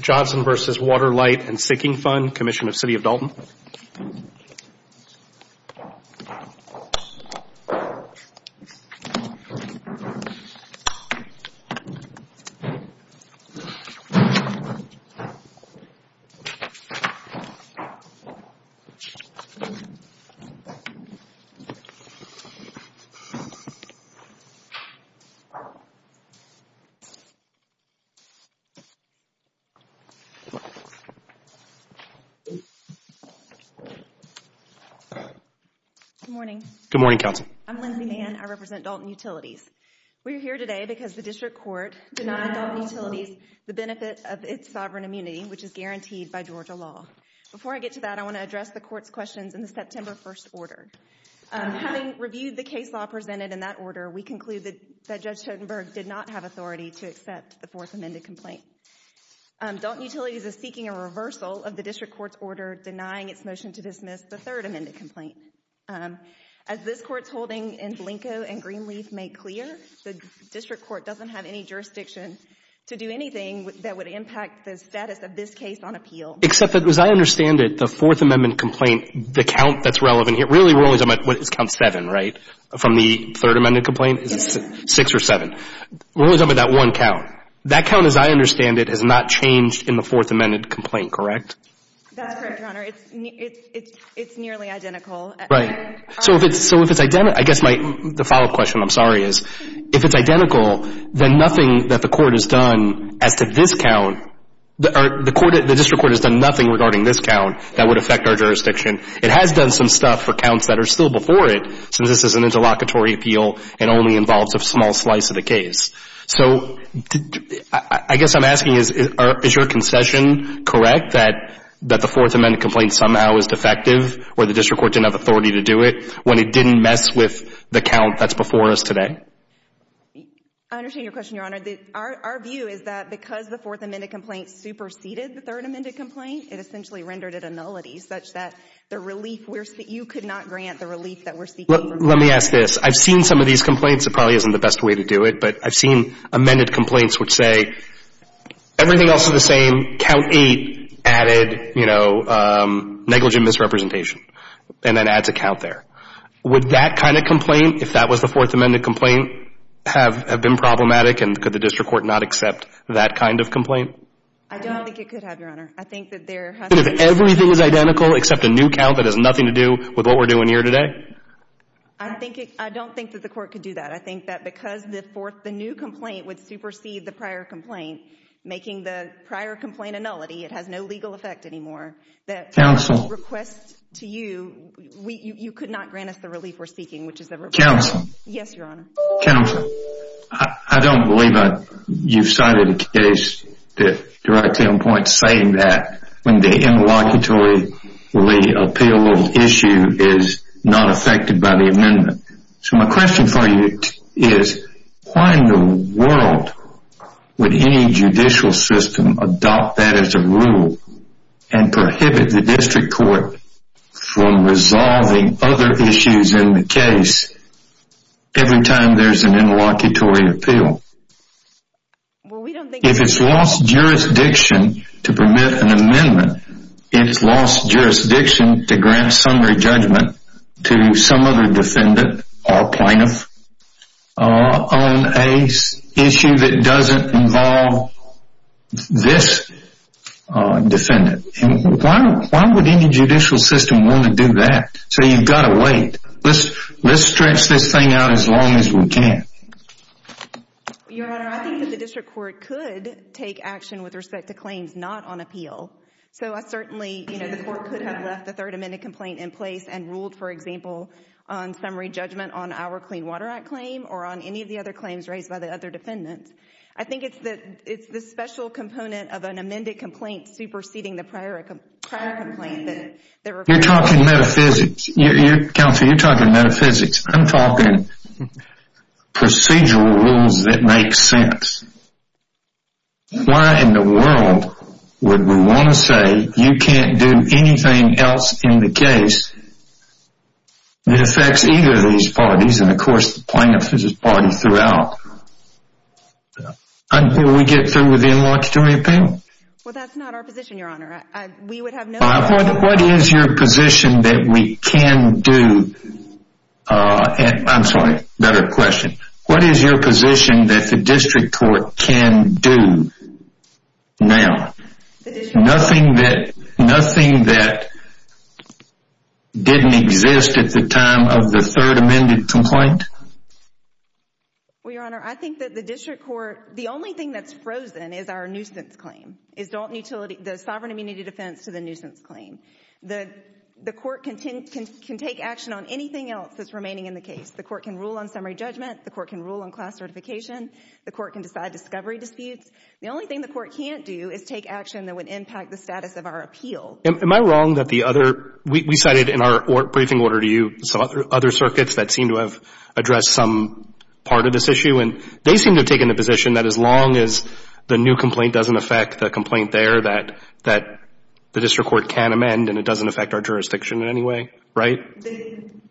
Johnson v. Water, Light, and Sinking Fund Commission of City of Dalton Good morning. Good morning, Counsel. I'm Lindsay Mann. I represent Dalton Utilities. We are here today because the District Court denied Dalton Utilities the benefit of its sovereign immunity, which is guaranteed by Georgia law. Before I get to that, I want to address the Court's questions in the September 1st order. Having reviewed the case law presented in that order, we conclude that Judge Totenberg did not have authority to accept the Fourth Amended Complaint. Dalton Utilities is seeking a reversal of the District Court's order denying its motion to dismiss the Third Amended Complaint. As this Court's holding in Blanco and Greenleaf make clear, the District Court doesn't have any jurisdiction to do anything that would impact the status of this case on appeal. Except that, as I understand it, the Fourth Amendment Complaint, the count that's relevant here, really we're only talking about, what, it's count seven, right, from the Third Amended Complaint? It's six or seven. We're only talking about one count. That count, as I understand it, has not changed in the Fourth Amended Complaint, correct? That's correct, Your Honor. It's nearly identical. Right. So if it's identical, I guess my follow-up question, I'm sorry, is if it's identical, then nothing that the Court has done as to this count, the District Court has done nothing regarding this count that would affect our jurisdiction. It has done some stuff for counts that are still before it, since this is an interlocutory appeal and only involves a small slice of the case. So I guess I'm asking, is your concession correct that the Fourth Amended Complaint somehow is defective or the District Court didn't have authority to do it when it didn't mess with the count that's before us today? I understand your question, Your Honor. Our view is that because the Fourth Amended Complaint superseded the Third Amended Complaint, it essentially rendered it a nullity such that the relief we're seeking, you could not grant the relief that we're seeking. Let me ask this. I've seen some of these complaints. It probably isn't the best way to do it, but I've seen amended complaints which say everything else is the same, count eight added, you know, negligent misrepresentation, and then adds a count there. Would that kind of complaint, if that was the Fourth Amended Complaint, have been problematic, and could the District Court not accept that kind of complaint? I don't think it could have, Your Honor. I think that there has to be... But if everything is identical except a new count that has nothing to do with what we're doing here today? I don't think that the Court could do that. I think that because the Fourth, the new complaint would supersede the prior complaint, making the prior complaint a nullity, it has no legal effect anymore. Counsel. The request to you, you could not grant us the relief we're seeking, which is the... Counsel. Yes, Your Honor. Counsel, I don't believe you've cited a case that directly on point saying that when the interlocutory appeal issue is not affected by the amendment. So my question for you is, why in the world would any judicial system adopt that as a rule and prohibit the District Court from doing that every time there's an interlocutory appeal? If it's lost jurisdiction to permit an amendment, it's lost jurisdiction to grant summary judgment to some other defendant or plaintiff on an issue that doesn't involve this defendant. Why would any judicial system want to do that? So you've got to wait. Let's stretch this thing out as long as we can. Your Honor, I think that the District Court could take action with respect to claims not on appeal. So I certainly, you know, the Court could have left the third amended complaint in place and ruled, for example, on summary judgment on our Clean Water Act claim or on any of the other claims raised by the other complaints superseding the prior complaint. You're talking metaphysics. Counselor, you're talking metaphysics. I'm talking procedural rules that make sense. Why in the world would we want to say you can't do anything else in the case that affects either of these parties and, of course, the plaintiff's party throughout? Will we get through with the in-laws to an appeal? Well, that's not our position, Your Honor. What is your position that we can do? I'm sorry, another question. What is your position that the District Court can do now? Nothing that didn't exist at the time of the third amended complaint? Well, Your Honor, I think that the District Court, the only thing that's frozen is our nuisance claim, the sovereign immunity defense to the nuisance claim. The Court can take action on anything else that's remaining in the case. The Court can rule on summary judgment. The Court can rule on class certification. The Court can decide discovery disputes. The only thing the Court can't do is take action that would impact the status of our appeal. Am I wrong that the other — we cited in our briefing order to you some other circuits that seem to have addressed some part of this issue, and they seem to have taken the position that as long as the new complaint doesn't affect the complaint there, that the District Court can amend and it doesn't affect our jurisdiction in any way, right?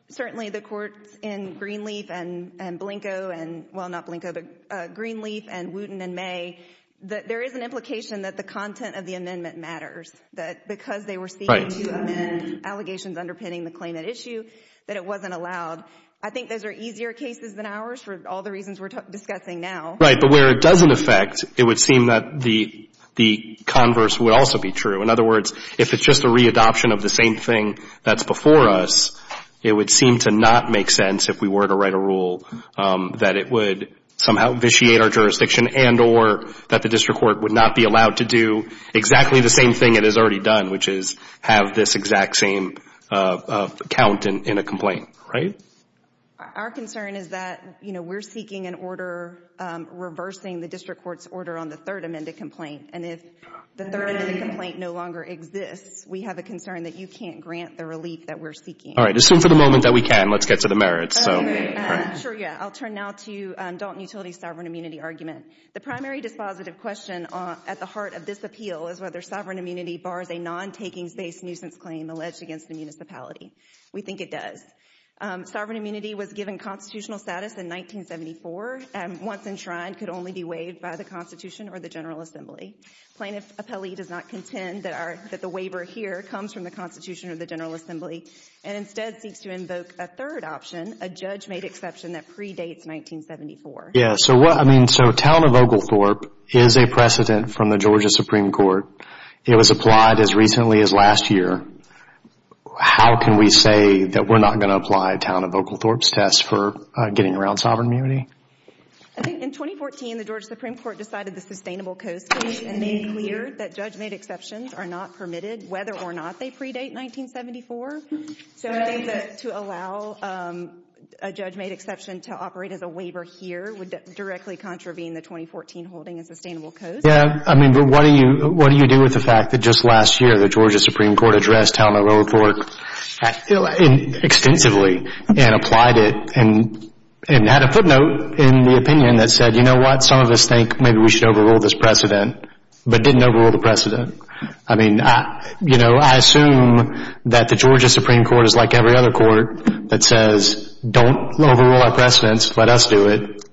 Certainly, the courts in Greenleaf and Blanco and — well, not Blanco, but Greenleaf and Wooten and May, there is an implication that the content of the amendment matters, that because they were seeking to amend allegations underpinning the claim at issue, that it wasn't allowed. I think those are easier cases than ours for all the reasons we're discussing now. Right, but where it doesn't affect, it would seem that the converse would also be true. In other words, if it's just a readoption of the same thing that's before us, it would seem to not make sense if we were to write a rule that it would somehow vitiate our jurisdiction and or that the District Court would not be allowed to do exactly the same thing it has already done, which is have this exact same count in a complaint, right? Our concern is that, you know, we're seeking an order reversing the District Court's order on the third amended complaint, and if the third amended complaint no longer exists, we have a concern that you can't grant the relief that we're seeking. All right, assume for the moment that we can. Let's get to the merits. Sure, yeah. I'll turn now to Dalton Utility's sovereign immunity argument. The primary dispositive question at the heart of this appeal is whether sovereign immunity bars a non-takings-based nuisance claim alleged against the municipality. We think it does. Sovereign immunity was given constitutional status in 1974 and once enshrined could only be waived by the Constitution or the General Assembly. Plaintiff appellee does not contend that the waiver here comes from the Constitution or the General Assembly and instead seeks to invoke a third option, a judge-made exception that predates 1974. Yeah, so what I mean, so Town of Oglethorpe is a precedent from the Georgia Supreme Court. It was applied as recently as last year. How can we say that we're not going to apply Town of Oglethorpe's test for getting around sovereign immunity? I think in 2014, the Georgia Supreme Court decided the sustainable coast case and made clear that judge-made exceptions are not permitted whether or not they predate 1974. So to allow a judge-made exception to operate as a waiver here would directly contravene the 2014 holding of sustainable coast. Yeah, I mean, but what do you do with the fact that just last year the Georgia Supreme Court addressed Town of Oglethorpe extensively and applied it and had a footnote in the opinion that said, you know what, some of us think maybe we should overrule this precedent, but didn't overrule the precedent. I mean, you know, I assume that the Georgia Supreme Court is like every other court that says, don't overrule our precedents, let us do it.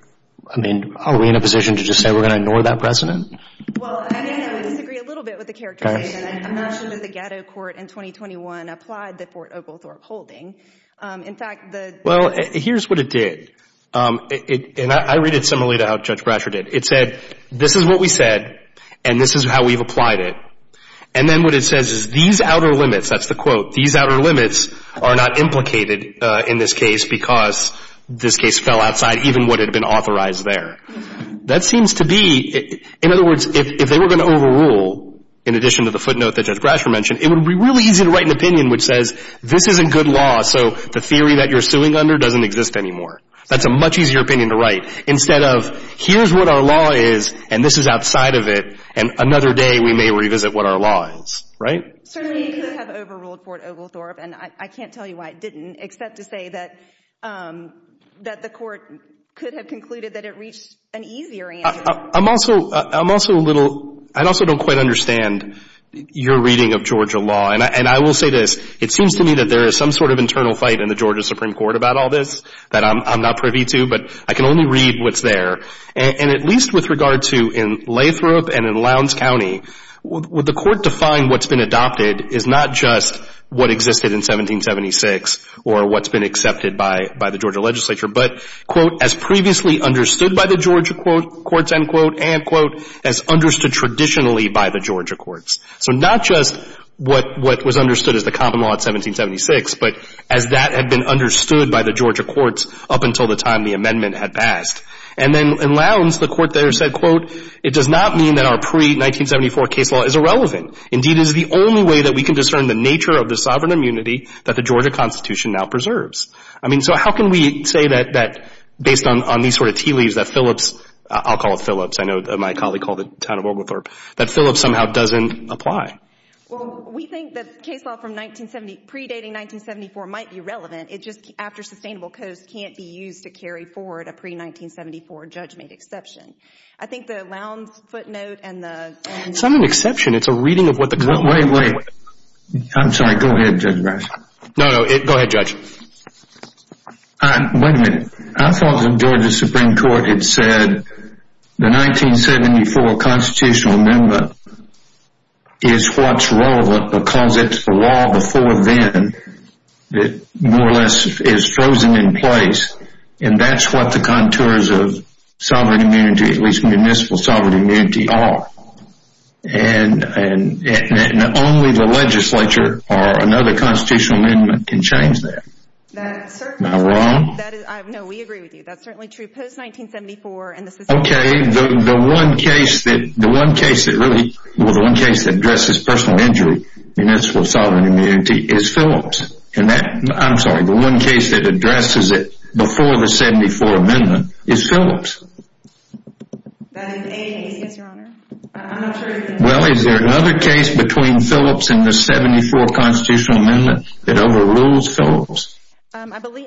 I mean, are we in a position to just say we're going to ignore that precedent? Well, I mean, I would disagree a little bit with the characterization. I'm not sure that the ghetto court in 2021 applied the Fort Oglethorpe holding. In fact, the- Well, here's what it did. And I read it similarly to how Judge Brasher did. It said, this is what we said and this is how we've applied it. And then what it says is these outer limits, that's the quote, these outer limits are not implicated in this case because this case fell outside even what had been authorized there. That seems to be, in other words, if they were going to overrule, in addition to the footnote that Judge Brasher mentioned, it would be really easy to write an opinion which says this isn't good law, so the theory that you're suing under doesn't exist anymore. That's a much easier opinion to write instead of here's what our law is and this is outside of it and another day we may revisit what our law is, right? Certainly it could have overruled Fort Oglethorpe, and I can't tell you why it didn't, except to say that the Court could have concluded that it reached an easier answer. I'm also a little, I also don't quite understand your reading of Georgia law. And I will say this. It seems to me that there is some sort of internal fight in the Georgia Supreme Court about all this that I'm not privy to, but I can only read what's there. And at least with regard to in Lathrop and in Lowndes County, the Court defined what's been adopted is not just what existed in 1776 or what's been accepted by the Georgia legislature, but, quote, as previously understood by the Georgia courts, end quote, and, quote, as understood traditionally by the Georgia courts. So not just what was understood as the common law in 1776, but as that had been understood by the Georgia courts up until the time the amendment had passed. And then in Lowndes, the Court there said, quote, it does not mean that our pre-1974 case law is irrelevant. Indeed, it is the only way that we can discern the nature of the sovereign immunity that the Georgia Constitution now preserves. I mean, so how can we say that based on these sort of tea leaves that Phillips, I'll call it Phillips, I know my colleague called it Town of Oglethorpe, that Phillips somehow doesn't apply? Well, we think that case law from 1970, predating 1974 might be relevant. It just, after Sustainable Coast, can't be used to carry forward a pre-1974 judgment exception. I think the Lowndes footnote and the- It's not an exception. It's a reading of what the- Wait, wait. I'm sorry. Go ahead, Judge Brash. No, no. Go ahead, Judge. Wait a minute. I thought the Georgia Supreme Court had said the 1974 constitutional amendment is what's relevant because it's the law before then that more or less is frozen in place, and that's what the contours of sovereign immunity, at least municipal sovereign immunity, are. And only the legislature or another constitutional amendment can change that. That's certainly- Am I wrong? No, we agree with you. That's certainly true. Post-1974 and the- Okay. The one case that really- Well, the one case that addresses personal injury, municipal sovereign immunity, is Phillips. And that- I'm sorry. The one case that addresses it before the 74 amendment is Phillips. That is a case, yes, Your Honor. I'm not sure- Well, is there another case between Phillips and the 74 constitutional amendment that overrules Phillips? I believe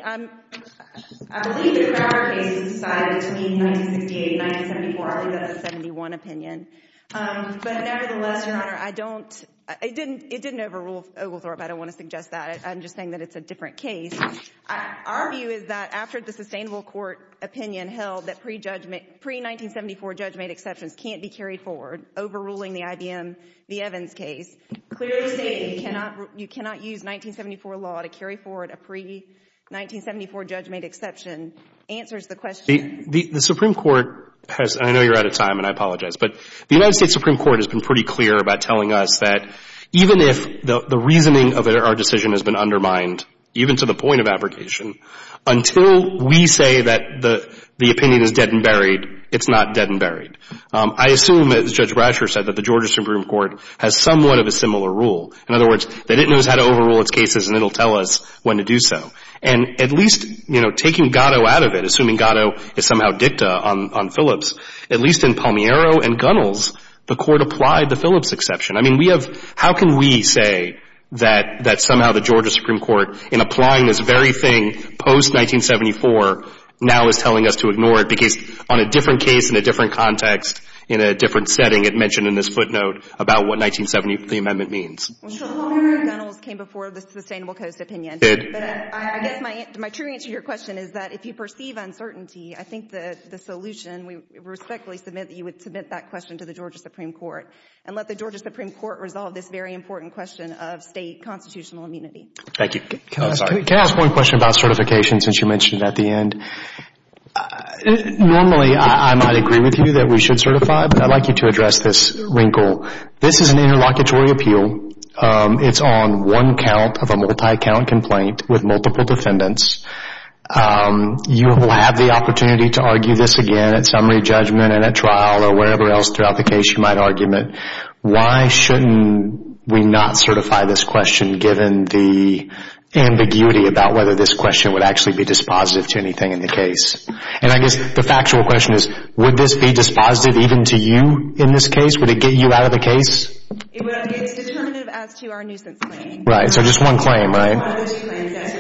the Crowder case was decided between 1968 and 1974. I believe that's a 71 opinion. But nevertheless, Your Honor, I don't- It didn't overrule Oglethorpe. I don't want to suggest that. I'm just saying that it's a different case. Our view is that after the sustainable court opinion held that pre-1974 judgment exceptions can't be carried forward, overruling the IBM, the Evans case, clearly states that you cannot use 1974 law to carry forward a pre-1974 judgment exception answers the question. The Supreme Court has- I know you're out of time, and I apologize. But the United States Supreme Court has been pretty clear about telling us that even if the reasoning of our decision has been undermined, even to the point of abrogation, until we say that the opinion is dead and buried, it's not dead and buried. I assume, as Judge Brasher said, that the Georgia Supreme Court has somewhat of a similar rule. In other words, that it knows how to overrule its cases, and it'll tell us when to do so. And at least, you know, taking Gatto out of it, assuming Gatto is somehow dicta on Phillips, at least in Palmiero and Gunnels, the Court applied the Phillips exception. I mean, we have- How can we say that somehow the Georgia Supreme Court, in applying this very thing post-1974, now is telling us to ignore it because on a different case, in a different context, in a different setting, it mentioned in this footnote about what 1970, the amendment, means? Well, sure. Palmiero and Gunnels came before the Sustainable Coast opinion. Did. But I guess my true answer to your question is that if you perceive uncertainty, I think the solution, we respectfully submit that you would submit that question to the Georgia Supreme Court and let the Georgia Supreme Court resolve this very important question of State constitutional immunity. Thank you. Can I ask one question about certification, since you mentioned it at the end? Normally, I might agree with you that we should certify, but I'd like you to address this wrinkle. This is an interlocutory appeal. It's on one count of a multi-account complaint with multiple defendants. You will have the opportunity to argue this again at summary judgment and at trial or wherever else throughout the case you might argument. Why shouldn't we not certify this question, given the ambiguity about whether this question would actually be dispositive to anything in the case? And I guess the factual question is, would this be dispositive even to you in this case? Would it get you out of the case? It's determinative as to our nuisance claim. Right. So just one claim, right? One of those claims, yes.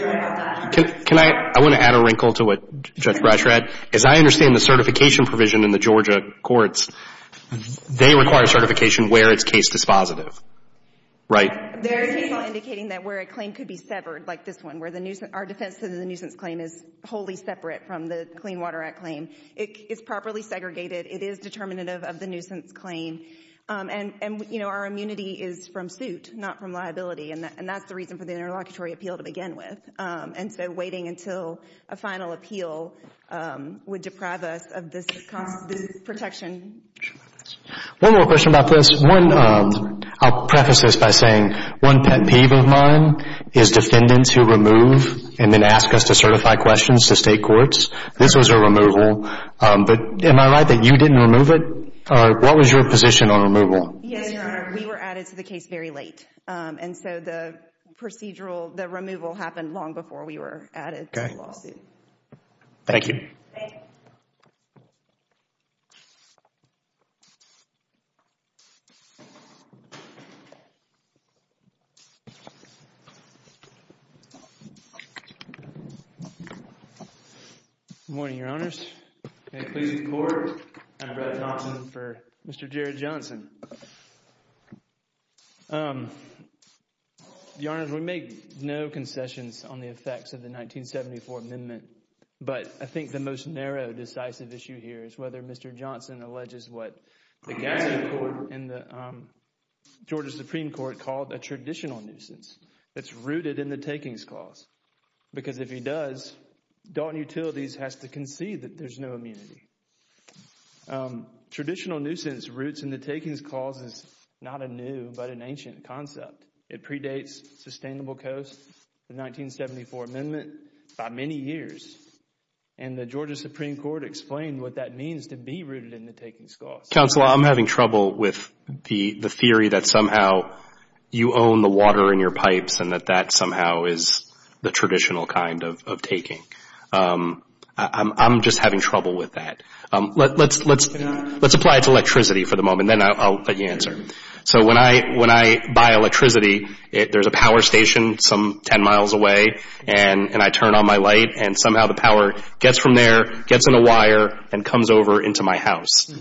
Can I? I want to add a wrinkle to what Judge Brash read. As I understand the certification provision in the Georgia courts, they require certification where it's case dispositive, right? They're basically indicating that where a claim could be severed, like this one, where our defense of the nuisance claim is wholly separate from the Clean Water Act claim. It's properly segregated. It is determinative of the nuisance claim. And, you know, our immunity is from suit, not from liability, and that's the reason for the interlocutory appeal to begin with. And so waiting until a final appeal would deprive us of this protection. One more question about this. One, I'll preface this by saying one pet peeve of mine is defendants who remove and then ask us to certify questions to state courts. This was a removal. But am I right that you didn't remove it? What was your position on removal? Yes, Your Honor, we were added to the case very late. And so the procedural, the removal happened long before we were added to the lawsuit. Thank you. Thank you. Thank you. Good morning, Your Honors. May it please the Court, I'm Brett Johnson for Mr. Jared Johnson. Your Honors, we make no concessions on the effects of the 1974 amendment, but I think the most narrow decisive issue here is whether Mr. Johnson alleges what the Georgia Supreme Court called a traditional nuisance that's rooted in the Takings Clause. Because if he does, Dalton Utilities has to concede that there's no immunity. Traditional nuisance roots in the Takings Clause is not a new but an ancient concept. It predates Sustainable Coast, the 1974 amendment, by many years. And the Georgia Supreme Court explained what that means to be rooted in the Takings Clause. Counsel, I'm having trouble with the theory that somehow you own the water in your pipes and that that somehow is the traditional kind of taking. I'm just having trouble with that. Let's apply it to electricity for the moment, then I'll let you answer. So when I buy electricity, there's a power station some 10 miles away, and I turn on my light and somehow the power gets from there, gets in a wire, and comes over into my house. If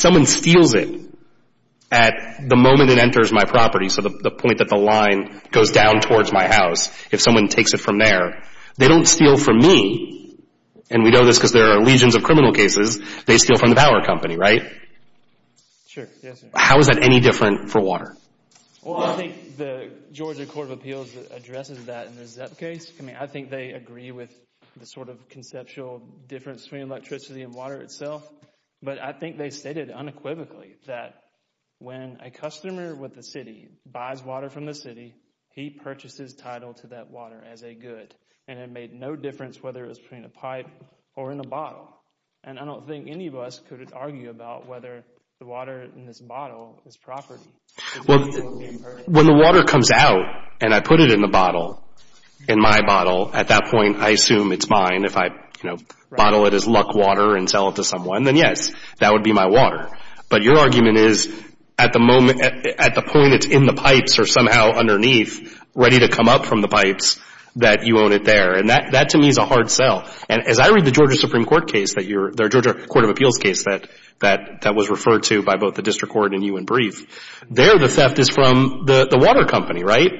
someone steals it at the moment it enters my property, so the point that the line goes down towards my house, if someone takes it from there, they don't steal from me, and we know this because there are legions of criminal cases, they steal from the power company, right? Sure. How is that any different for water? Well, I think the Georgia Court of Appeals addresses that in the ZEP case. I mean, I think they agree with the sort of conceptual difference between electricity and water itself, but I think they stated unequivocally that when a customer with the city buys water from the city, he purchases title to that water as a good, and it made no difference whether it was between a pipe or in a bottle. And I don't think any of us could argue about whether the water in this bottle is property. Well, when the water comes out and I put it in the bottle, in my bottle, at that point I assume it's mine. If I, you know, bottle it as luck water and sell it to someone, then yes, that would be my water. But your argument is at the point it's in the pipes or somehow underneath, ready to come up from the pipes, that you own it there. And that to me is a hard sell. And as I read the Georgia Supreme Court case that you're – there the theft is from the water company, right?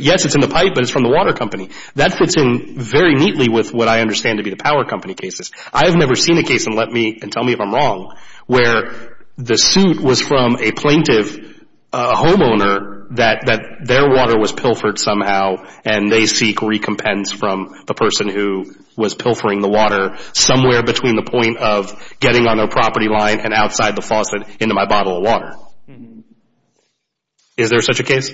Yes, it's in the pipe, but it's from the water company. That fits in very neatly with what I understand to be the power company cases. I have never seen a case, and let me – and tell me if I'm wrong, where the suit was from a plaintiff, a homeowner, that their water was pilfered somehow and they seek recompense from the person who was pilfering the water somewhere between the point of getting on their property line and outside the faucet into my bottle of water. Is there such a case?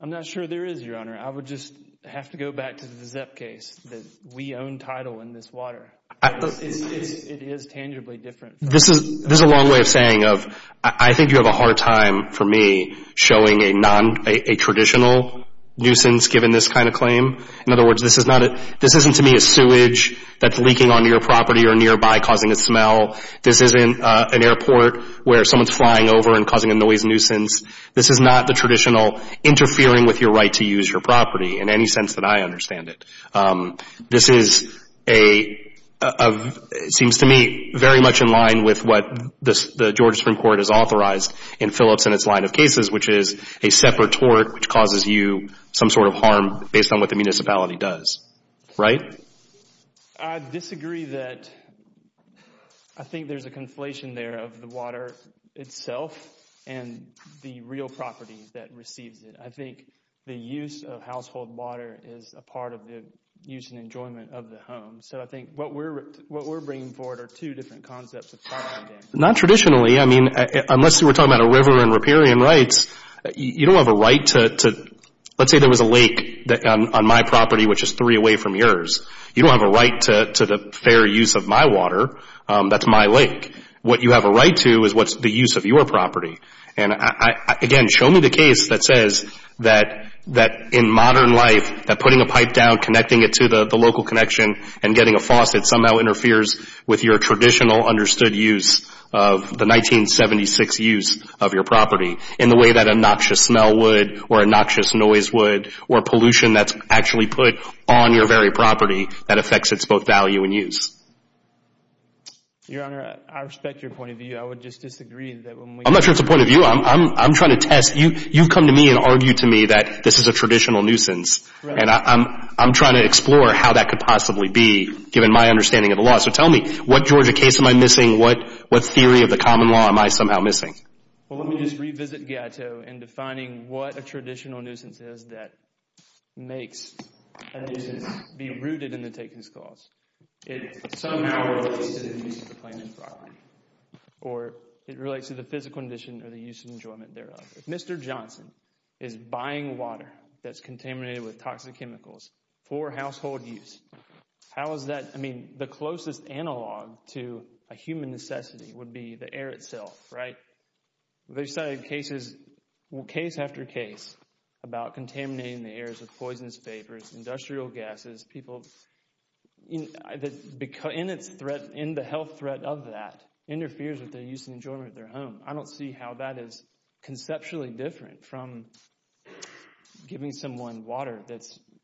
I'm not sure there is, Your Honor. I would just have to go back to the Zepp case that we own title in this water. It is tangibly different. This is a long way of saying of I think you have a hard time for me showing a non – a traditional nuisance given this kind of claim. In other words, this is not – this isn't to me a sewage that's leaking onto your property or nearby causing a smell. This isn't an airport where someone's flying over and causing a noise nuisance. This is not the traditional interfering with your right to use your property in any sense that I understand it. This is a – seems to me very much in line with what the Georgia Supreme Court has authorized in Phillips and its line of cases, which is a separate tort which causes you some sort of harm based on what the municipality does. Right? I disagree that – I think there's a conflation there of the water itself and the real property that receives it. I think the use of household water is a part of the use and enjoyment of the home. So I think what we're bringing forward are two different concepts. Not traditionally. I mean, unless we're talking about a river and riparian rights, you don't have a right to – let's say there was a lake on my property, which is three away from yours. You don't have a right to the fair use of my water. That's my lake. What you have a right to is what's the use of your property. And, again, show me the case that says that in modern life, that putting a pipe down, connecting it to the local connection, and getting a faucet somehow interferes with your traditional understood use of the 1976 use of your property in the way that a noxious smell would or a noxious noise would or pollution that's actually put on your very property that affects its both value and use. Your Honor, I respect your point of view. I would just disagree that when we – I'm not sure it's a point of view. I'm trying to test. You come to me and argue to me that this is a traditional nuisance. And I'm trying to explore how that could possibly be, given my understanding of the law. So tell me, what Georgia case am I missing? What theory of the common law am I somehow missing? Well, let me just revisit Gatto in defining what a traditional nuisance is that makes a nuisance be rooted in the takings clause. It somehow relates to the use of the planet's property or it relates to the physical condition or the use and enjoyment thereof. If Mr. Johnson is buying water that's contaminated with toxic chemicals for household use, how is that – the only necessity would be the air itself, right? They've cited cases – case after case about contaminating the air with poisonous vapors, industrial gases, people – in its threat – in the health threat of that interferes with their use and enjoyment of their home. I don't see how that is conceptually different from giving someone water that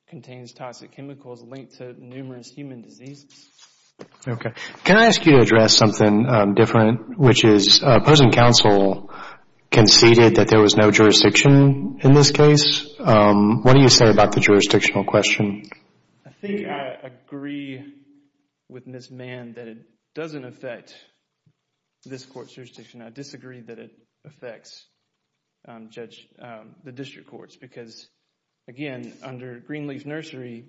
contains toxic chemicals linked to numerous human diseases. Okay. Can I ask you to address something different, which is opposing counsel conceded that there was no jurisdiction in this case. What do you say about the jurisdictional question? I think I agree with Ms. Mann that it doesn't affect this court's jurisdiction. I disagree that it affects the district courts because, again, under Greenleaf Nursery,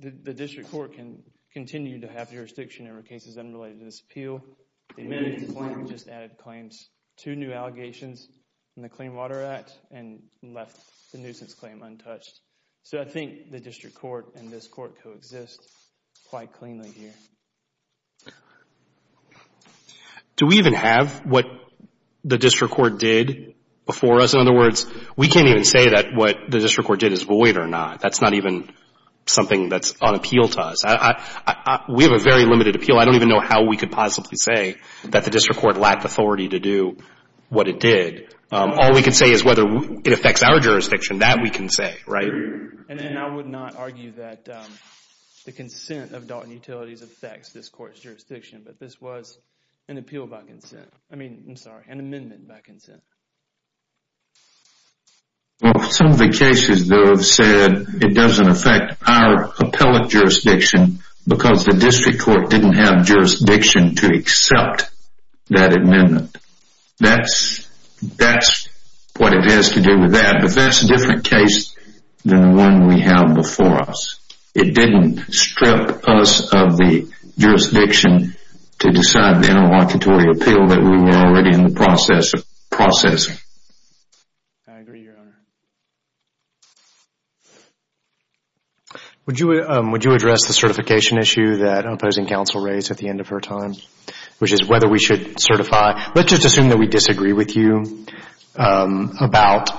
the district court can continue to have jurisdiction over cases unrelated to this appeal. The amended claim just added claims to new allegations in the Clean Water Act and left the nuisance claim untouched. So I think the district court and this court coexist quite cleanly here. Do we even have what the district court did before us? In other words, we can't even say that what the district court did is void or not. That's not even something that's on appeal to us. We have a very limited appeal. I don't even know how we could possibly say that the district court lacked authority to do what it did. All we can say is whether it affects our jurisdiction. That we can say, right? And I would not argue that the consent of Dalton Utilities affects this court's jurisdiction, but this was an appeal by consent. I mean, I'm sorry, an amendment by consent. Some of the cases, though, have said it doesn't affect our appellate jurisdiction because the district court didn't have jurisdiction to accept that amendment. That's what it has to do with that. But that's a different case than the one we have before us. It didn't strip us of the jurisdiction to decide the interlocutory appeal that we were already in the process of processing. I agree, Your Honor. Would you address the certification issue that opposing counsel raised at the end of her time? Which is whether we should certify. Let's just assume that we disagree with you about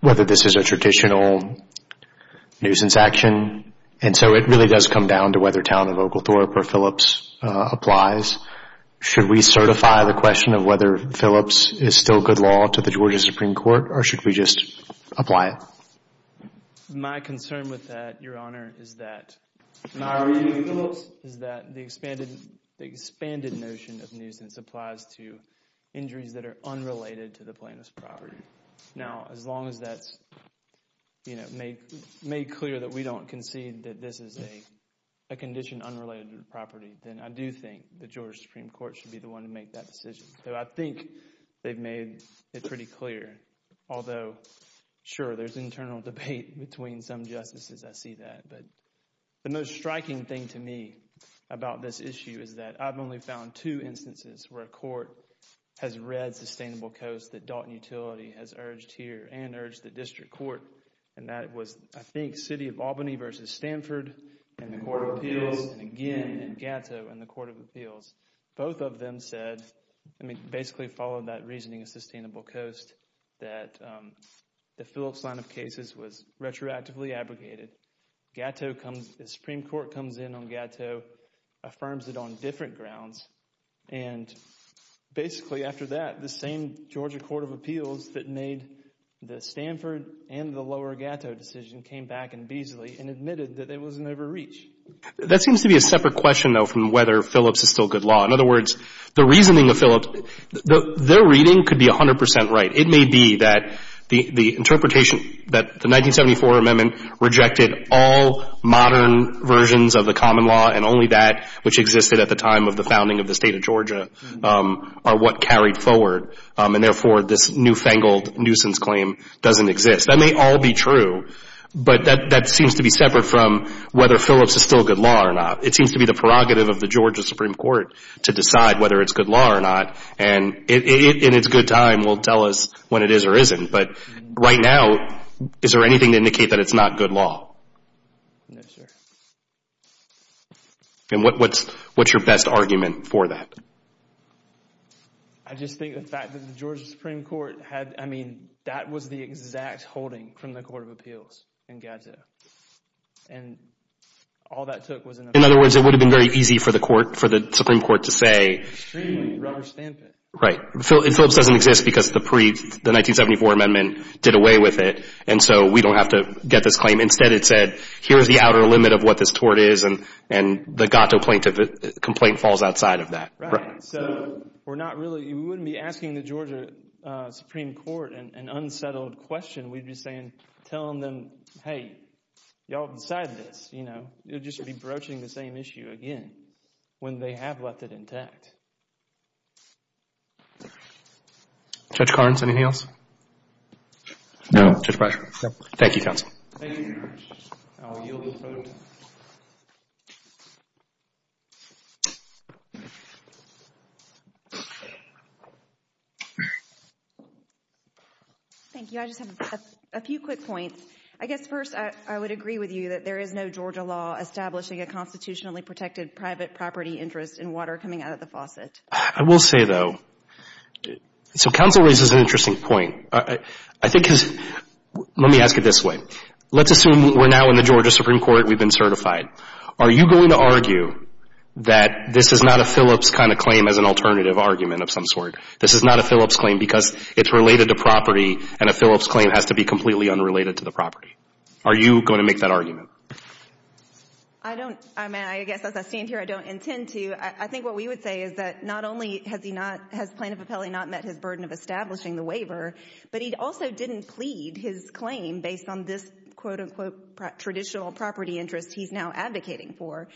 whether this is a traditional nuisance action, and so it really does come down to whether Talent of Oglethorpe or Phillips applies. Should we certify the question of whether Phillips is still good law to the Georgia Supreme Court, or should we just apply it? My concern with that, Your Honor, is that my argument with Phillips is that the expanded notion of nuisance applies to injuries that are unrelated to the plaintiff's property. As long as that's made clear that we don't concede that this is a condition unrelated to the property, then I do think the Georgia Supreme Court should be the one to make that decision. I think they've made it pretty clear. Although, sure, there's internal debate between some justices. I see that. The most striking thing to me about this issue is that I've only found two instances where a court has read Sustainable Coast, that Daughton Utility has urged here, and urged the District Court. That was, I think, City of Albany versus Stanford, and the Court of Appeals, and again, Gatto and the Court of Appeals. Both of them basically followed that reasoning of Sustainable Coast that the Phillips line of cases was retroactively abrogated. Supreme Court comes in on Gatto, affirms it on different grounds, and basically after that, the same Georgia Court of Appeals that made the Stanford and the lower Gatto decision came back in Beazley and admitted that it was an overreach. That seems to be a separate question, though, from whether Phillips is still good law. In other words, the reasoning of Phillips, their reading could be 100 percent right. It may be that the interpretation that the 1974 amendment rejected all modern versions of the common law and only that which existed at the time of the founding of the state of Georgia are what carried forward, and therefore this newfangled nuisance claim doesn't exist. That may all be true, but that seems to be separate from whether Phillips is still good law or not. It seems to be the prerogative of the Georgia Supreme Court to decide whether it's good law or not, and in its good time will tell us when it is or isn't. But right now, is there anything to indicate that it's not good law? No, sir. And what's your best argument for that? I just think the fact that the Georgia Supreme Court had, I mean, that was the exact holding from the Court of Appeals in Gatto, and all that took was an appeal. In other words, it would have been very easy for the Supreme Court to say... Extremely. Rubber stamp it. Right. Phillips doesn't exist because the 1974 amendment did away with it, and so we don't have to get this claim. Instead, it said, here's the outer limit of what this tort is, and the Gatto complaint falls outside of that. Right. So we're not really... We wouldn't be asking the Georgia Supreme Court an unsettled question. We'd be saying, telling them, hey, y'all decided this. It would just be broaching the same issue again when they have left it intact. Judge Carnes, anything else? No. Thank you, counsel. Thank you. I'll yield the floor. Thank you. I just have a few quick points. I guess first, I would agree with you that there is no Georgia law establishing a constitutionally protected private property interest in water coming out of the faucet. I will say, though... So counsel raises an interesting point. I think... Let me ask it this way. Let's assume we're now in the Georgia Supreme Court. We've been certified. Are you going to argue that this is not a Phillips kind of claim as an alternative argument of some sort? This is not a Phillips claim because it's related to property, and a Phillips claim has to be completely unrelated to the property. Are you going to make that argument? I don't... I mean, I guess as I stand here, I don't intend to. I think what we would say is that not only has he not... has plaintiff appellee not met his burden of establishing the waiver, but he also didn't plead his claim based on this, quote, unquote, traditional property interest he's now advocating for.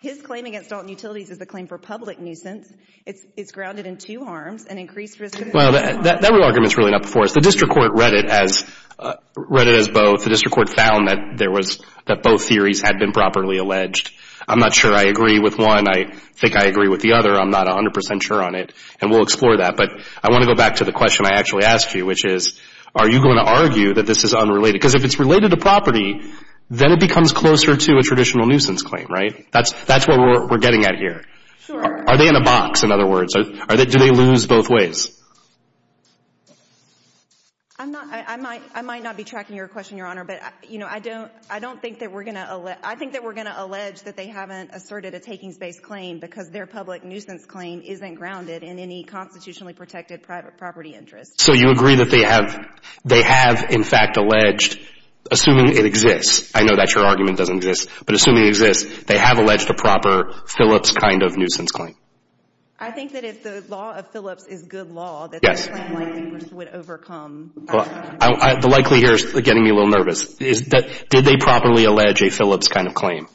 His claim against Dalton Utilities is a claim for public nuisance. It's grounded in two harms, an increased risk of... Well, that argument's really not before us. The district court read it as both. The district court found that there was... that both theories had been properly alleged. I'm not sure I agree with one. I think I agree with the other. I'm not 100 percent sure on it, and we'll explore that. But I want to go back to the question I actually asked you, which is are you going to argue that this is unrelated? Because if it's related to property, then it becomes closer to a traditional nuisance claim, right? That's what we're getting at here. Sure. Are they in a box, in other words? Do they lose both ways? I'm not... I might not be tracking your question, Your Honor, but, you know, I don't think that we're going to... I think that we're going to allege that they haven't asserted a takings-based claim because their public nuisance claim isn't grounded in any constitutionally protected private property interest. So you agree that they have... they have, in fact, alleged, assuming it exists... I know that your argument doesn't exist, but assuming it exists, they have alleged a proper Phillips kind of nuisance claim. I think that if the law of Phillips is good law... Yes. ...that this claim likely would overcome... The likely here is getting me a little nervous. Did they properly allege a Phillips kind of claim?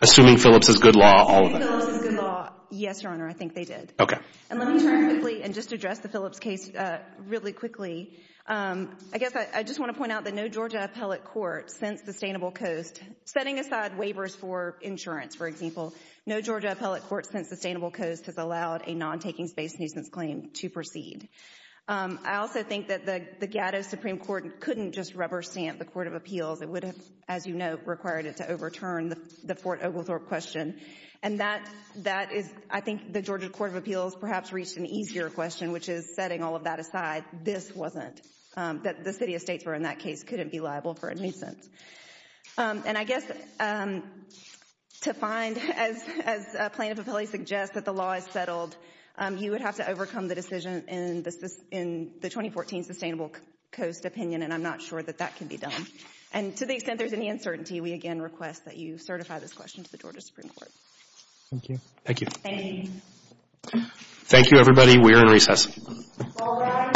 Assuming Phillips is good law, all of them. If Phillips is good law, yes, Your Honor, I think they did. Okay. And let me turn quickly and just address the Phillips case really quickly. I guess I just want to point out that no Georgia appellate court since the Sustainable Coast, setting aside waivers for insurance, for example, no Georgia appellate court since Sustainable Coast has allowed a non-takings-based nuisance claim to proceed. I also think that the Gatto Supreme Court couldn't just rubber stamp the Court of Appeals. It would have, as you note, required it to overturn the Fort Oglethorpe question. And that is, I think, the Georgia Court of Appeals perhaps reached an easier question, which is setting all of that aside. This wasn't. The city estates were in that case couldn't be liable for a nuisance. And I guess to find, as plaintiff appellate suggests, that the law is settled, you would have to overcome the decision in the 2014 Sustainable Coast opinion, and I'm not sure that that can be done. And to the extent there's any uncertainty, we again request that you certify this question to the Georgia Supreme Court. Thank you. Thank you. Thank you. Thank you, everybody. We are in recess. All rise.